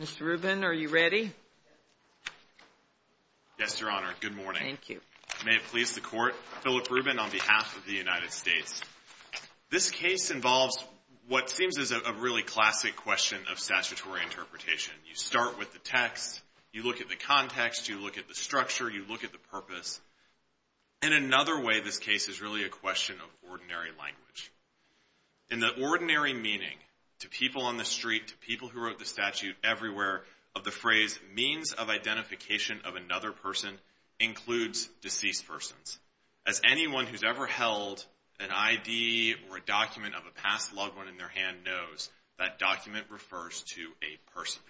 Mr. Rubin, are you ready? Yes, Your Honor. Good morning. Thank you. May it please the Court. Philip Rubin on behalf of the United States. This case involves what seems is a really classic question of statutory interpretation. You start with the text, you look at the context, you look at the structure, you look at the purpose. In another way, this case is really a question of ordinary language. In the ordinary meaning, to people on the street, to people who wrote the statute, everywhere of the phrase means of identification of another person includes deceased persons. As anyone who's ever held an ID or a document of a past loved one in their hand knows, that document refers to a person.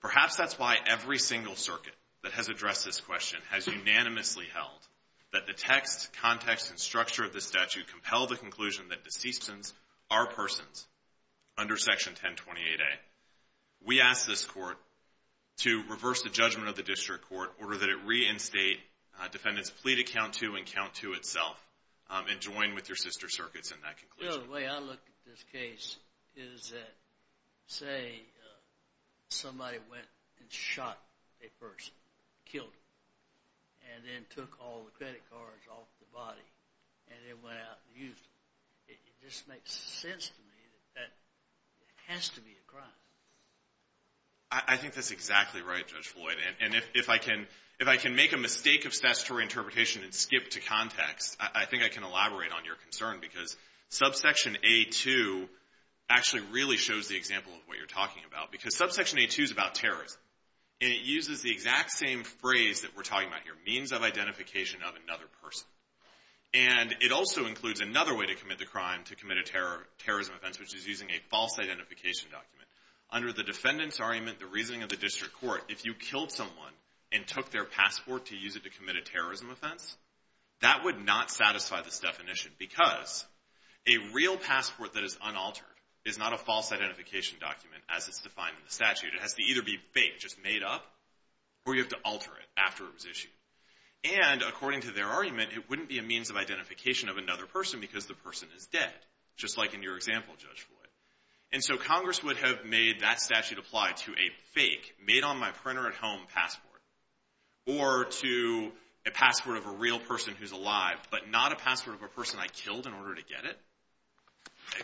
Perhaps that's why every single circuit that has addressed this question has unanimously held that the text, context, and structure of the statute compel the conclusion that deceased persons are persons under Section 1028A. We ask this Court to reverse the judgment of the district court in order that it reinstate defendants' plea to count to and count to itself and join with your sister circuits in that conclusion. The way I look at this case is that, say, somebody went and shot a person, killed him, and then took all the credit cards off the body and then went out and used them. It just makes sense to me that it has to be a crime. I think that's exactly right, Judge Floyd. And if I can make a mistake of statutory interpretation and skip to context, I think I can elaborate on your concern because Subsection A2 actually really shows the example of what you're talking about. Because Subsection A2 is about terrorism. And it uses the exact same phrase that we're talking about here, means of identification of another person. And it also includes another way to commit a crime, to commit a terrorism offense, which is using a false identification document. Under the defendant's argument, the reasoning of the district court, if you killed someone and took their passport to use it to commit a terrorism offense, that would not satisfy this definition because a real passport that is unaltered is not a false identification document as it's defined in the statute. It has to either be fake, just made up, or you have to alter it after it was issued. And according to their argument, it wouldn't be a means of identification of another person because the person is dead, just like in your example, Judge Floyd. And so Congress would have made that statute apply to a fake, made-on-my-printer-at-home passport or to a passport of a real person who's alive, but not a passport of a person I killed in order to get it.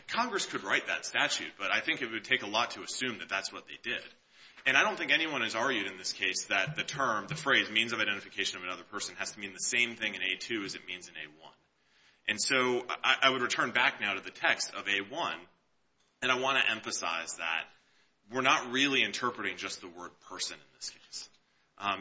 Congress could write that statute, but I think it would take a lot to assume that that's what they did. And I don't think anyone has argued in this case that the term, the phrase, means of identification of another person has to mean the same thing in A2 as it means in A1. And so I would return back now to the text of A1, and I want to emphasize that we're not really interpreting just the word person in this case.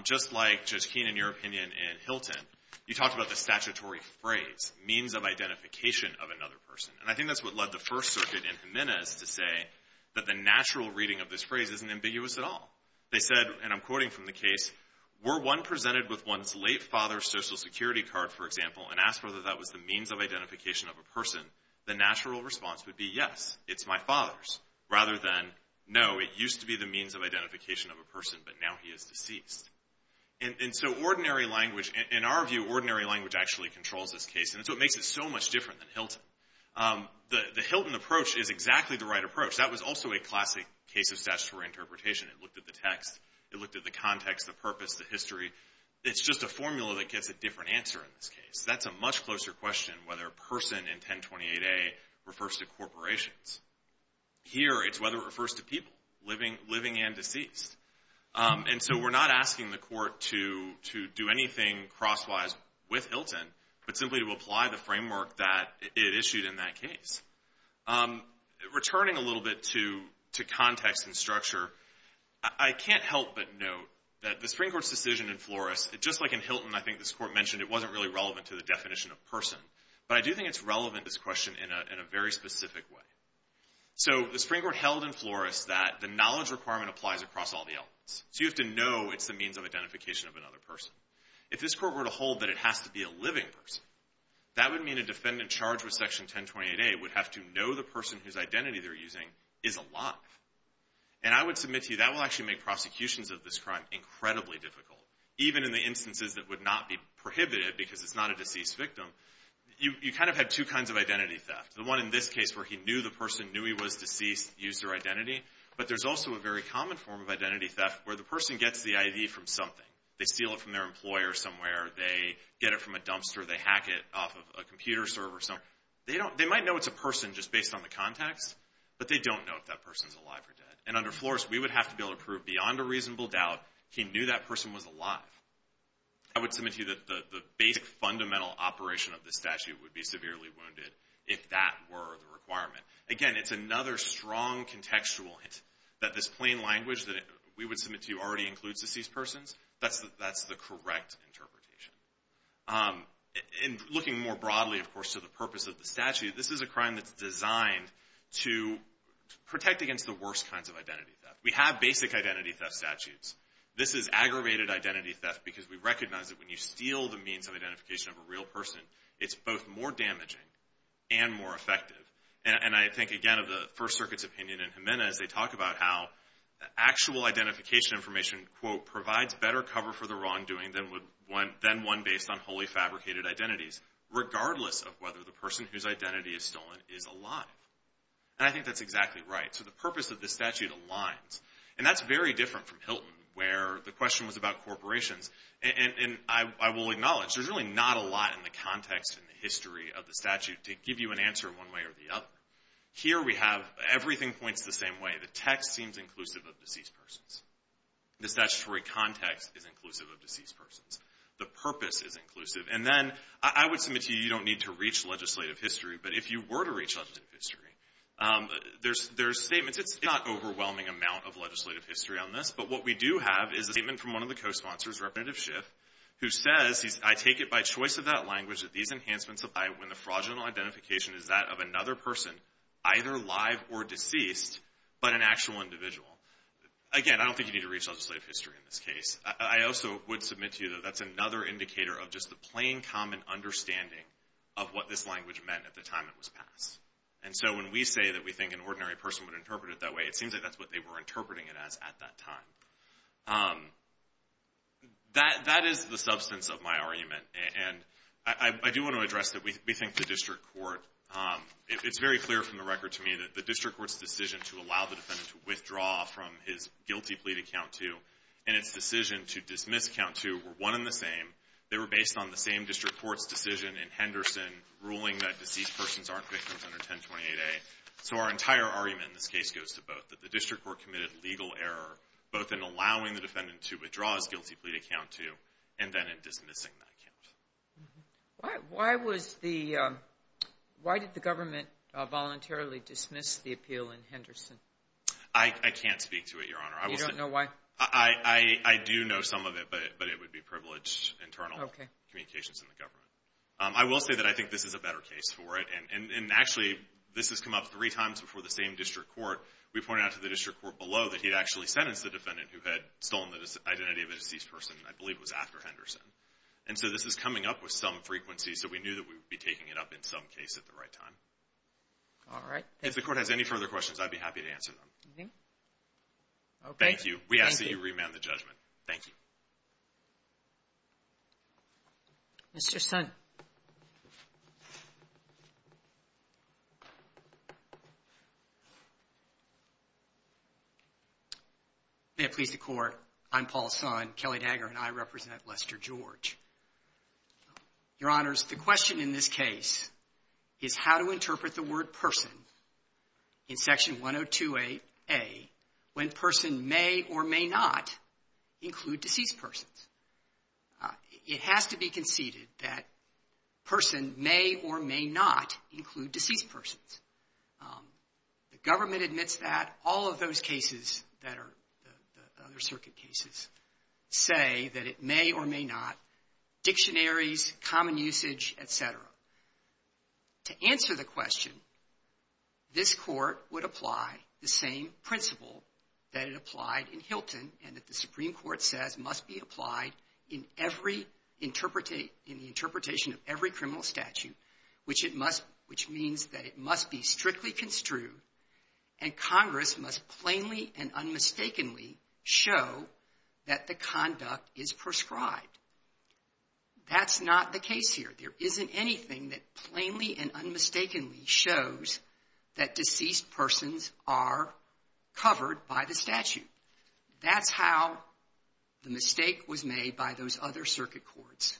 Just like, Judge Keene, in your opinion in Hilton, you talked about the statutory phrase, means of identification of another person. And I think that's what led the First Circuit in Jimenez to say that the natural reading of this phrase isn't ambiguous at all. They said, and I'm quoting from the case, were one presented with one's late father's Social Security card, for example, and asked whether that was the means of identification of a person, the natural response would be, yes, it's my father's, rather than, no, it used to be the means of identification of a person, but now he is deceased. And so ordinary language actually controls this case, and so it makes it so much different than Hilton. The Hilton approach is exactly the right approach. That was also a classic case of statutory interpretation. It looked at the text. It looked at the context, the purpose, the history. It's just a formula that gets a different answer in this case. That's a much closer question whether person in 1028A refers to corporations. Here, it's whether it refers to people, living and deceased. And so we're not asking the court to do anything crosswise with Hilton, but simply to apply the framework that it issued in that case. Returning a little bit to context and structure, I can't help but note that the Supreme Court's decision in Flores, just like in Hilton, I think this court mentioned it wasn't really relevant to the definition of person, but I do think it's relevant, this question, in a very specific way. So the Supreme Court held in Flores that the knowledge requirement applies across all the elements, so you have to know it's the means of identification of a person, but it has to be a living person. That would mean a defendant charged with Section 1028A would have to know the person whose identity they're using is alive. And I would submit to you that will actually make prosecutions of this crime incredibly difficult, even in the instances that would not be prohibited because it's not a deceased victim. You kind of have two kinds of identity theft. The one in this case where he knew the person, knew he was deceased, used their identity. But there's also a very common form of identity theft where the person gets the ID from something. They steal it from their employer somewhere. They get it from a dumpster. They hack it off of a computer server or something. They might know it's a person just based on the contacts, but they don't know if that person's alive or dead. And under Flores, we would have to be able to prove beyond a reasonable doubt he knew that person was alive. I would submit to you that the basic fundamental operation of the statute would be severely wounded if that were the requirement. Again, it's another strong contextual hint that this plain language that we would submit to you already includes deceased persons. That's the correct interpretation. In looking more broadly, of course, to the purpose of the statute, this is a crime that's designed to protect against the worst kinds of identity theft. We have basic identity theft statutes. This is aggravated identity theft because we recognize that when you steal the means of identification of a real person, it's both more damaging and more effective. And I think, again, of the First Circuit's opinion in Jimenez, they talk about how actual identification information, quote, provides better cover for the wrongdoing than one based on wholly fabricated identities, regardless of whether the person whose identity is stolen is alive. And I think that's exactly right. So the purpose of this statute aligns. And that's very different from Hilton, where the question was about corporations. And I will acknowledge there's really not a lot in the context and the history of the statute to give you an answer one way or the other. Here we have everything points the same way. The statutory context is inclusive of deceased persons. The purpose is inclusive. And then I would submit to you, you don't need to reach legislative history. But if you were to reach legislative history, there's statements. It's not an overwhelming amount of legislative history on this. But what we do have is a statement from one of the co-sponsors, Representative Schiff, who says, I take it by choice of that language that these enhancements apply when the fraudulent identification is that of another person, either live or deceased, but an actual individual. Again, I don't think you need to reach legislative history in this case. I also would submit to you that that's another indicator of just the plain common understanding of what this language meant at the time it was passed. And so when we say that we think an ordinary person would interpret it that way, it seems like that's what they were interpreting it as at that time. That is the substance of my argument. And I do want to address that we think the district court, it's very clear from the record to me that the district court's decision to allow the defendant to withdraw from his guilty plea to count two and its decision to dismiss count two were one and the same. They were based on the same district court's decision in Henderson ruling that deceased persons aren't victims under 1028A. So our entire argument in this case goes to both, that the district court committed legal error both in allowing the defendant to withdraw his guilty plea to count two and then in dismissing that count. Why did the government voluntarily dismiss the appeal in Henderson? I can't speak to it, Your Honor. You don't know why? I do know some of it, but it would be privileged internal communications in the government. I will say that I think this is a better case for it. And actually, this has come up three times before the same district court. We pointed out to the district court below that he'd actually sentenced the defendant who had stolen the identity of a deceased person, I believe it was after Henderson. And so this is coming up with some frequency, so we knew that we would be taking it up in some case at the right time. If the court has any further questions, I'd be happy to answer them. Thank you. We ask that you remand the judgment. Thank you. Mr. Son. May it please the Court. I'm Paul Son, Kelly Dagger, and I represent Lester George. Your Honors, the question in this case is how to interpret the word person in Section 102A when person may or may not include deceased persons. It has to be conceded that a person may or may not include deceased persons. The government admits that. All of those cases that are the other circuit cases say that it may or may not. Dictionaries, common usage, et cetera. To answer the question, this Court would apply the same principle that it applied in Hilton and that the Supreme Court says must be applied in every interpretation of every criminal statute, which means that it must be strictly construed and Congress must plainly and unmistakably show that the conduct is prescribed. That's not the case here. There isn't anything that plainly and unmistakably shows that deceased persons are covered by the statute. That's how the mistake was made by those other circuit courts.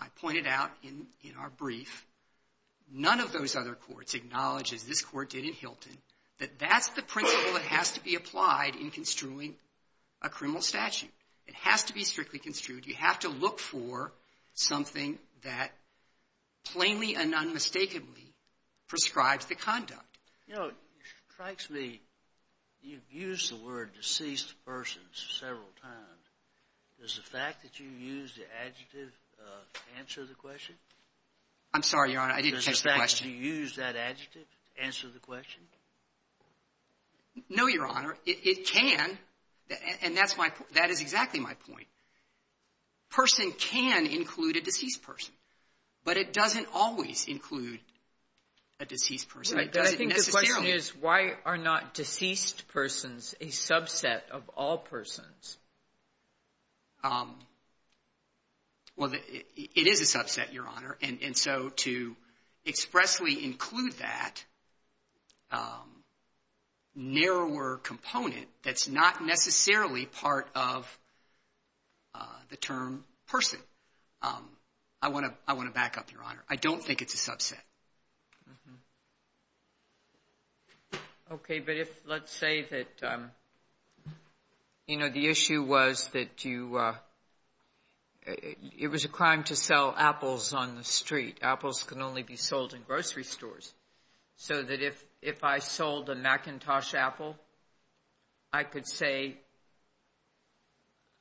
I pointed out in our brief none of those other courts acknowledges this Court did in Hilton that that's the principle that has to be applied in construing a criminal statute. It has to be strictly construed. You have to look for something that plainly and unmistakably prescribes the conduct. You know, it strikes me you've used the word deceased persons several times. Does the fact that you used the adjective answer the question? I'm sorry, Your Honor, I didn't catch the question. Does the fact that you used that adjective answer the question? No, Your Honor. It can. And that's my point. That is exactly my point. Person can include a deceased person, but it doesn't always include a deceased person. I think the question is, why are not deceased persons a subset of all persons? Well, it is a subset, Your Honor. And so to expressly include that narrower component that's not necessarily part of the term person, I want to back up, Your Honor. I don't think it's a subset. Okay. But if let's say that, you know, the issue was that you – it was a crime to sell apples on the street. Apples can only be sold in grocery stores. So that if I sold a Macintosh apple, I could say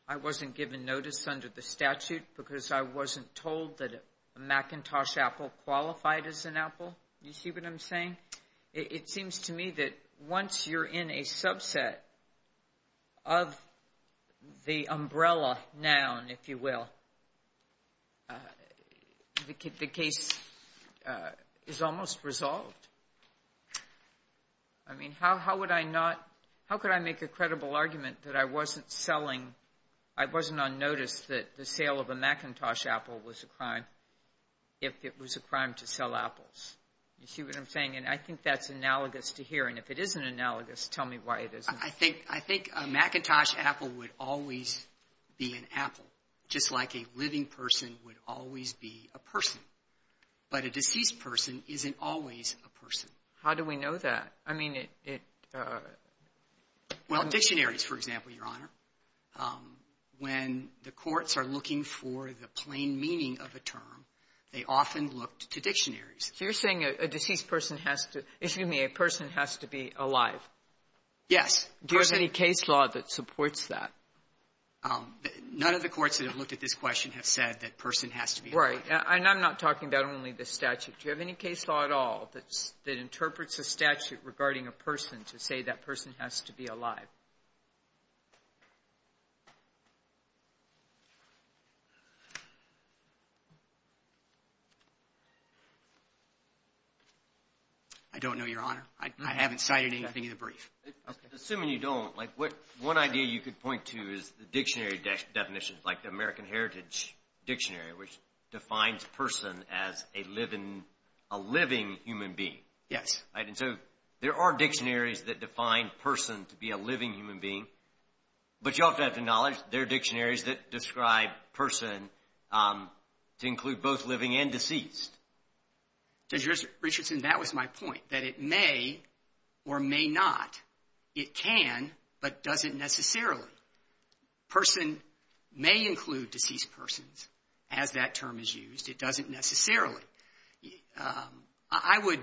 I wasn't given notice under the statute because I wasn't told that a Macintosh apple qualified as an apple. You see what I'm saying? It seems to me that once you're in a subset of the umbrella noun, if you will, the case is almost resolved. I mean, how would I not – how could I make a credible argument that I wasn't selling – that a Macintosh apple was a crime if it was a crime to sell apples? You see what I'm saying? And I think that's analogous to hearing. If it isn't analogous, tell me why it isn't. I think a Macintosh apple would always be an apple, just like a living person would always be a person. But a deceased person isn't always a person. How do we know that? I mean, it – Well, dictionaries, for example, Your Honor. When the courts are looking for the plain meaning of a term, they often look to dictionaries. So you're saying a deceased person has to – excuse me, a person has to be alive? Yes. Do you have any case law that supports that? None of the courts that have looked at this question have said that person has to be alive. Right. And I'm not talking about only the statute. Do you have any case law at all that interprets a statute regarding a person to say that person has to be alive? I don't know, Your Honor. I haven't cited anything in the brief. Assuming you don't, like one idea you could point to is the dictionary definitions, like the American Heritage Dictionary, which defines person as a living human being. Yes. Right, and so there are dictionaries that define person to be a living human being, but you also have to acknowledge there are dictionaries that describe person to include both living and deceased. Judge Richardson, that was my point, that it may or may not, it can but doesn't necessarily. Person may include deceased persons as that term is used. It doesn't necessarily. I would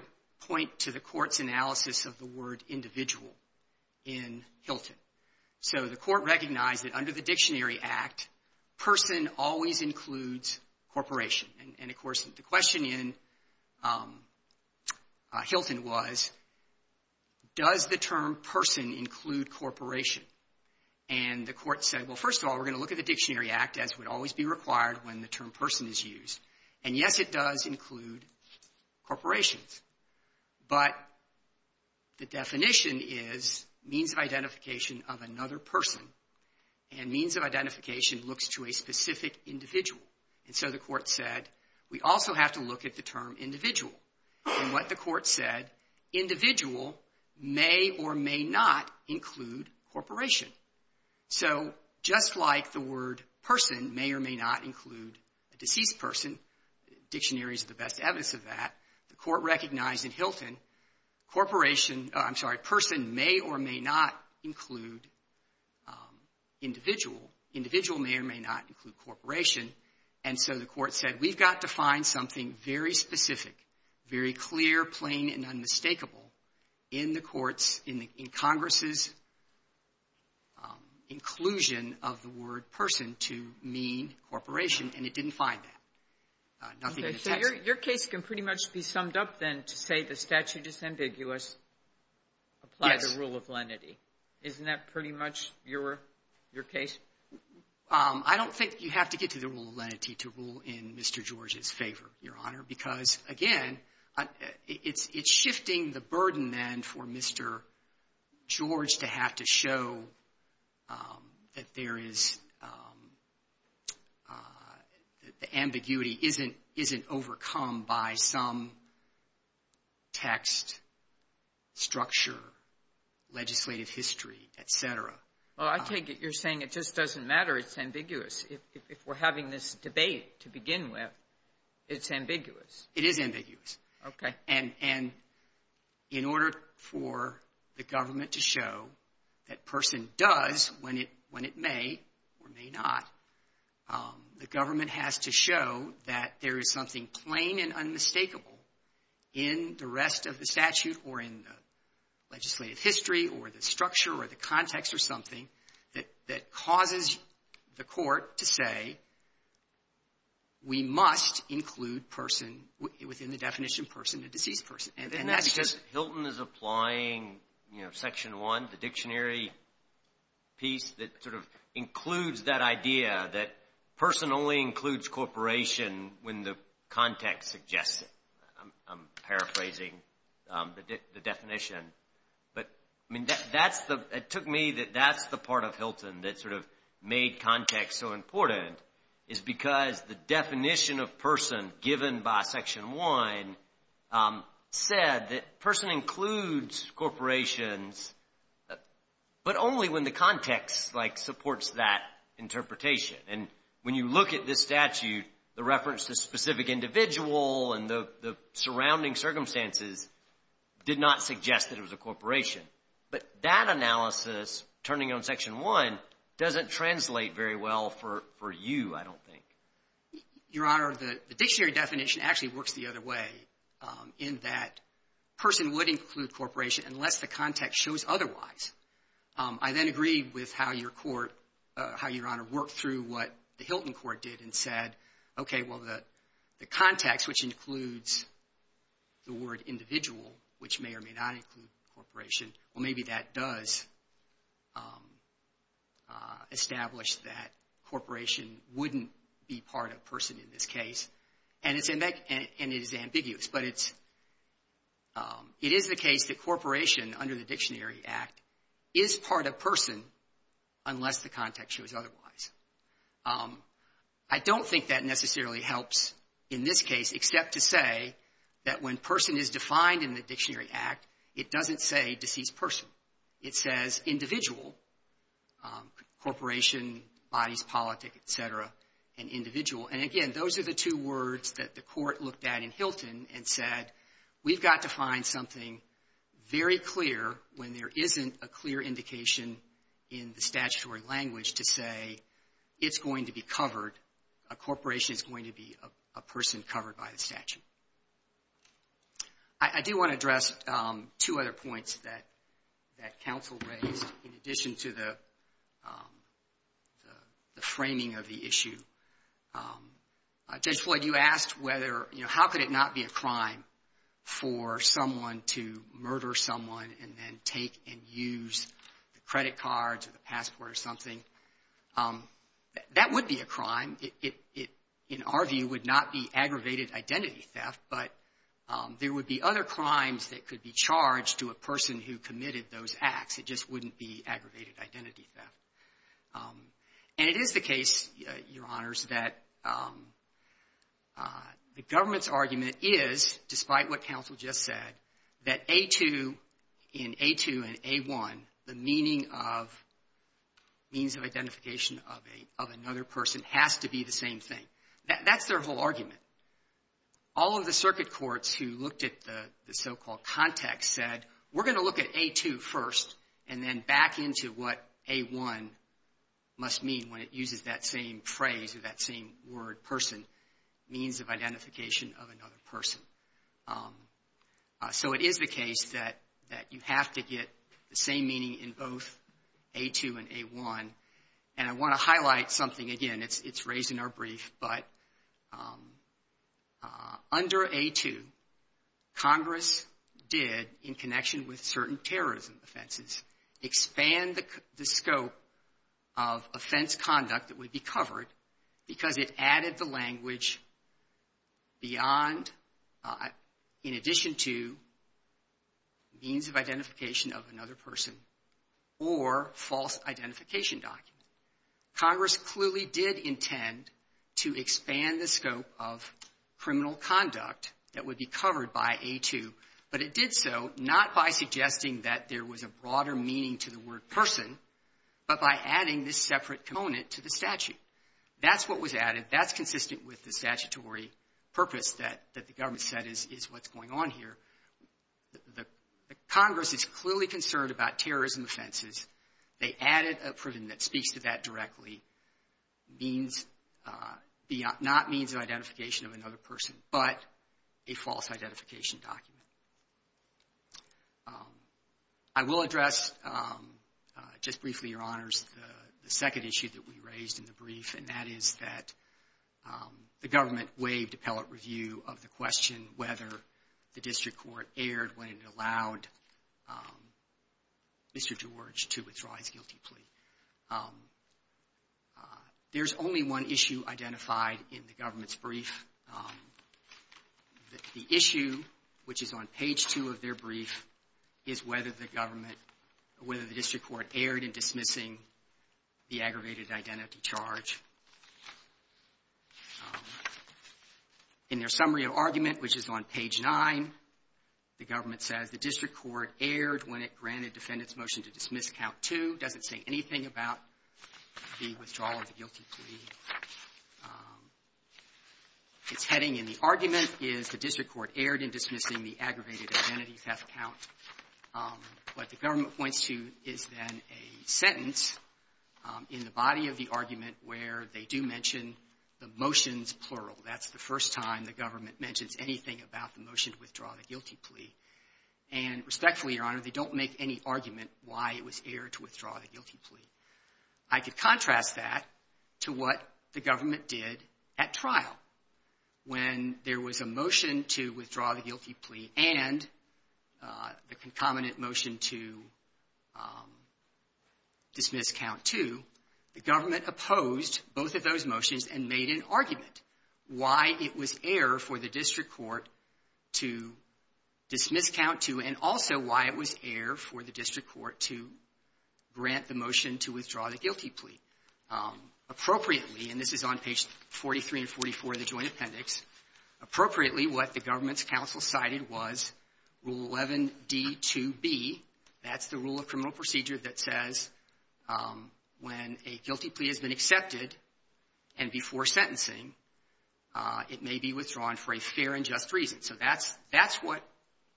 point to the court's analysis of the word individual in Hilton. So the court recognized that under the Dictionary Act, person always includes corporation. And, of course, the question in Hilton was, does the term person include corporation? And the court said, well, first of all, we're going to look at the Dictionary Act, as would always be required when the term person is used. And, yes, it does include corporations. But the definition is means of identification of another person. And means of identification looks to a specific individual. And so the court said, we also have to look at the term individual. And what the court said, individual may or may not include corporation. So just like the word person may or may not include a deceased person, dictionaries are the best evidence of that, the court recognized in Hilton corporation, I'm sorry, person may or may not include individual. Individual may or may not include corporation. And so the court said, we've got to find something very specific, very clear, plain, and unmistakable in the courts, in Congress's inclusion of the word person to mean corporation, and it didn't find that. Nothing in the text. Sotomayor, your case can pretty much be summed up, then, to say the statute is ambiguous. Yes. Apply the rule of lenity. Isn't that pretty much your case? I don't think you have to get to the rule of lenity to rule in Mr. George's favor, Your Honor, because, again, it's shifting the burden, then, for Mr. George to have to show that there is the ambiguity isn't overcome by some text, structure, legislative history, et cetera. Well, I take it you're saying it just doesn't matter, it's ambiguous. If we're having this debate to begin with, it's ambiguous. It is ambiguous. Okay. And in order for the government to show that person does when it may or may not, the government has to show that there is something plain and unmistakable in the rest of the statute or in the legislative history or the structure or the context or something that causes the court to say we must include person within the definition of person, a deceased person. And that's just — Isn't that because Hilton is applying, you know, Section 1, the dictionary piece that sort of includes that idea that person only includes corporation when the context suggests it? I'm paraphrasing the definition. But, I mean, it took me that that's the part of Hilton that sort of made context so important is because the definition of person given by Section 1 said that person includes corporations but only when the context, like, supports that interpretation. And when you look at this statute, the reference to specific individual and the surrounding circumstances did not suggest that it was a corporation. But that analysis, turning on Section 1, doesn't translate very well for you, I don't think. Your Honor, the dictionary definition actually works the other way, in that person would include corporation unless the context shows otherwise. I then agree with how Your Honor worked through what the Hilton court did and said, okay, well, the context, which includes the word individual, which may or may not include corporation, well, maybe that does establish that corporation wouldn't be part of person in this case. And it is ambiguous. But it is the case that corporation, under the Dictionary Act, is part of person unless the context shows otherwise. I don't think that necessarily helps in this case, except to say that when person is defined in the Dictionary Act, it doesn't say deceased person. It says individual, corporation, bodies, politics, et cetera, and individual. And, again, those are the two words that the court looked at in Hilton and said, we've got to find something very clear when there isn't a clear indication in the statutory language to say it's going to be covered, a corporation is going to be a person covered by the statute. I do want to address two other points that counsel raised, in addition to the framing of the issue. Judge Floyd, you asked whether, you know, how could it not be a crime for someone to murder someone and then take and use the credit cards or the passport or something. That would be a crime. It, in our view, would not be aggravated identity theft, but there would be other crimes that could be charged to a person who committed those acts. It just wouldn't be aggravated identity theft. And it is the case, Your Honors, that the government's argument is, despite what counsel just said, that in A2 and A1, the meaning of means of identification of another person has to be the same thing. That's their whole argument. All of the circuit courts who looked at the so-called context said, we're going to look at A2 first and then back into what A1 must mean when it uses that same phrase or that same word, person, means of identification of another person. So it is the case that you have to get the same meaning in both A2 and A1. And I want to highlight something again. It's raised in our brief, but under A2, Congress did, in connection with certain terrorism offenses, expand the scope of offense conduct that would be covered because it added the language beyond, in addition to, means of identification of another person or false identification document. Congress clearly did intend to expand the scope of criminal conduct that would be covered by A2, but it did so not by suggesting that there was a broader meaning to the word person, but by adding this separate component to the statute. That's what was added. That's consistent with the statutory purpose that the government said is what's going on here. The Congress is clearly concerned about terrorism offenses. They added a provision that speaks to that directly, means beyond, not means of identification of another person, but a false identification document. I will address, just briefly, Your Honors, the second issue that we raised in the brief, and that is that the government waived appellate review of the question whether the district court erred when it allowed Mr. George to withdraw his guilty plea. There's only one issue identified in the government's brief. The issue, which is on page 2 of their brief, is whether the government, whether the district court erred in dismissing the aggravated identity charge. In their summary of argument, which is on page 9, the government says the district court erred when it granted defendants' motion to dismiss count 2. It doesn't say anything about the withdrawal of the guilty plea. Its heading in the argument is the district court erred in dismissing the aggravated identity theft count. What the government points to is then a sentence in the body of the argument where they do mention the motions, plural. That's the first time the government mentions anything about the motion to withdraw the guilty plea. And respectfully, Your Honor, they don't make any argument why it was erred to withdraw the guilty plea. I could contrast that to what the government did at trial. When there was a motion to withdraw the guilty plea and the concomitant motion to dismiss count 2, the government opposed both of those motions and made an argument why it was err for the district court to dismiss count 2 and also why it was err for the district court to grant the motion to withdraw the guilty plea appropriately. And this is on page 43 and 44 of the Joint Appendix. Appropriately, what the government's counsel cited was Rule 11d2b. That's the rule of criminal procedure that says when a guilty plea has been accepted and before sentencing, it may be withdrawn for a fair and just reason. So that's what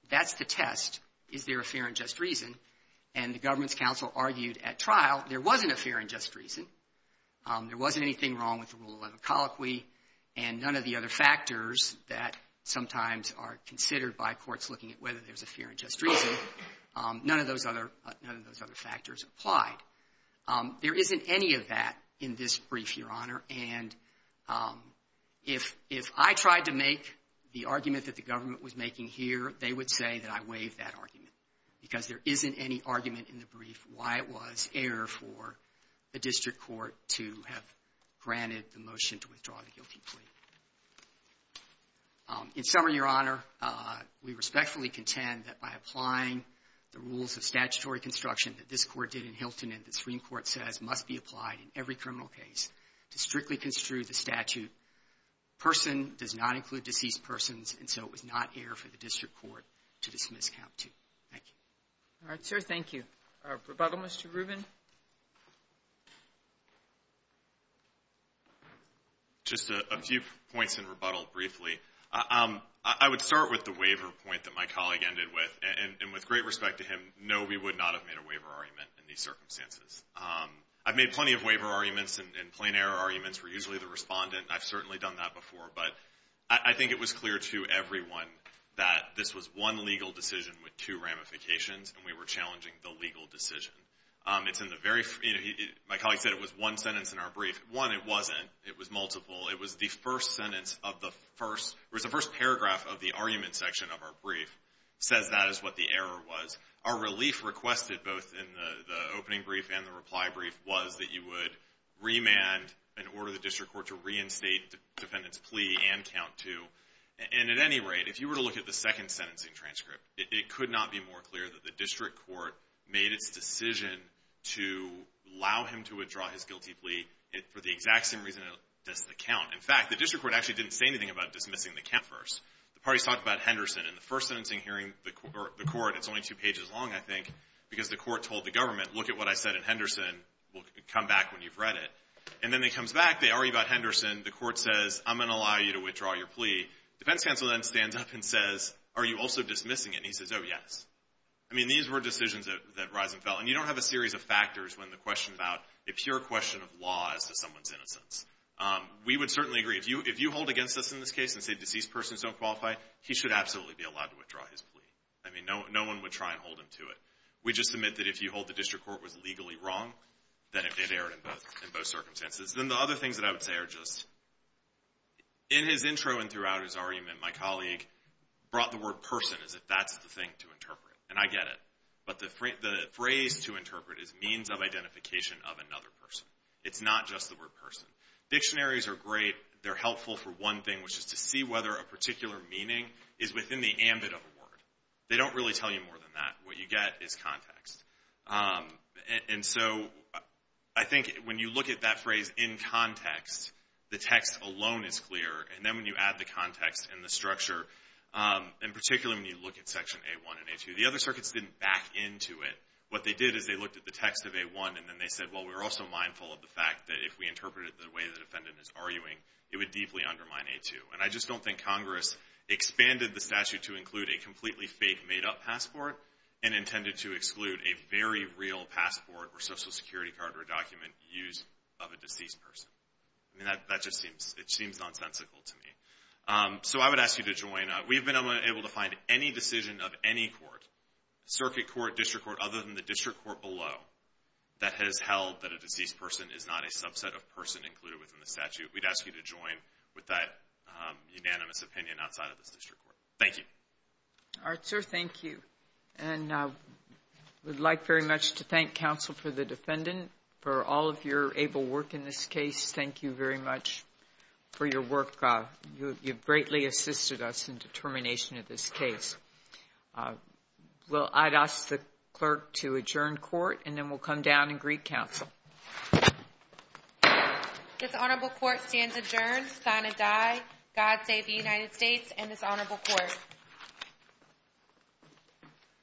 the test, is there a fair and just reason? And the government's counsel argued at trial there wasn't a fair and just reason. There wasn't anything wrong with the Rule 11 colloquy. And none of the other factors that sometimes are considered by courts looking at whether there's a fair and just reason, none of those other factors applied. There isn't any of that in this brief, Your Honor. And if I tried to make the argument that the government was making here, they would say that I waived that argument because there isn't any argument in the brief why it was air for a district court to have granted the motion to withdraw the guilty plea. In summary, Your Honor, we respectfully contend that by applying the rules of statutory construction that this Court did in Hilton and the Supreme Court says must be applied in every criminal case to strictly construe the statute, person does not include Mr. Rubin. Just a few points in rebuttal briefly. I would start with the waiver point that my colleague ended with. And with great respect to him, no, we would not have made a waiver argument in these circumstances. I've made plenty of waiver arguments and plain error arguments for usually the respondent. I've certainly done that before. But I think it was clear to everyone that this was one legal decision with two sentences. It's in the very, you know, my colleague said it was one sentence in our brief. One, it wasn't. It was multiple. It was the first sentence of the first, or it was the first paragraph of the argument section of our brief says that is what the error was. Our relief requested both in the opening brief and the reply brief was that you would remand and order the district court to reinstate defendant's plea and count two. And at any rate, if you were to look at the second sentencing transcript, it could not be more clear that the district court made its decision to allow him to withdraw his guilty plea for the exact same reason it does the count. In fact, the district court actually didn't say anything about dismissing the count first. The parties talked about Henderson. In the first sentencing hearing, the court, it's only two pages long, I think, because the court told the government, look at what I said in Henderson. We'll come back when you've read it. And then it comes back. They argue about Henderson. The court says, I'm going to allow you to withdraw your plea. Defense counsel then stands up and says, are you also dismissing it? And he says, oh, yes. I mean, these were decisions that Risen felt. And you don't have a series of factors when the question about a pure question of law as to someone's innocence. We would certainly agree. If you hold against us in this case and say deceased persons don't qualify, he should absolutely be allowed to withdraw his plea. I mean, no one would try and hold him to it. We just submit that if you hold the district court was legally wrong, then it erred in both circumstances. Then the other things that I would say are just, in his intro and throughout his argument, my colleague brought the word person as if that's the thing to interpret. And I get it. But the phrase to interpret is means of identification of another person. It's not just the word person. Dictionaries are great. They're helpful for one thing, which is to see whether a particular meaning is within the ambit of a word. They don't really tell you more than that. What you get is context. And so I think when you look at that phrase in context, the text alone is clear. And then when you add the context and the structure, and particularly when you look at Section A-1 and A-2, the other circuits didn't back into it. What they did is they looked at the text of A-1, and then they said, well, we're also mindful of the fact that if we interpreted it the way the defendant is arguing, it would deeply undermine A-2. And I just don't think Congress expanded the statute to include a completely fake made-up passport and intended to exclude a very real passport or Social Security card or document used of a deceased person. I mean, that just seems nonsensical to me. So I would ask you to join. We've been able to find any decision of any court, circuit court, district court, other than the district court below, that has held that a deceased person is not a subset of person included within the statute. We'd ask you to join with that unanimous opinion outside of this district court. Thank you. All right, sir. Thank you. And I would like very much to thank counsel for the defendant for all of your able work in this case. Thank you very much for your work. You've greatly assisted us in determination of this case. I'd ask the clerk to adjourn court, and then we'll come down and greet counsel. This honorable court stands adjourned. Signed, Adai. God save the United States and this honorable court.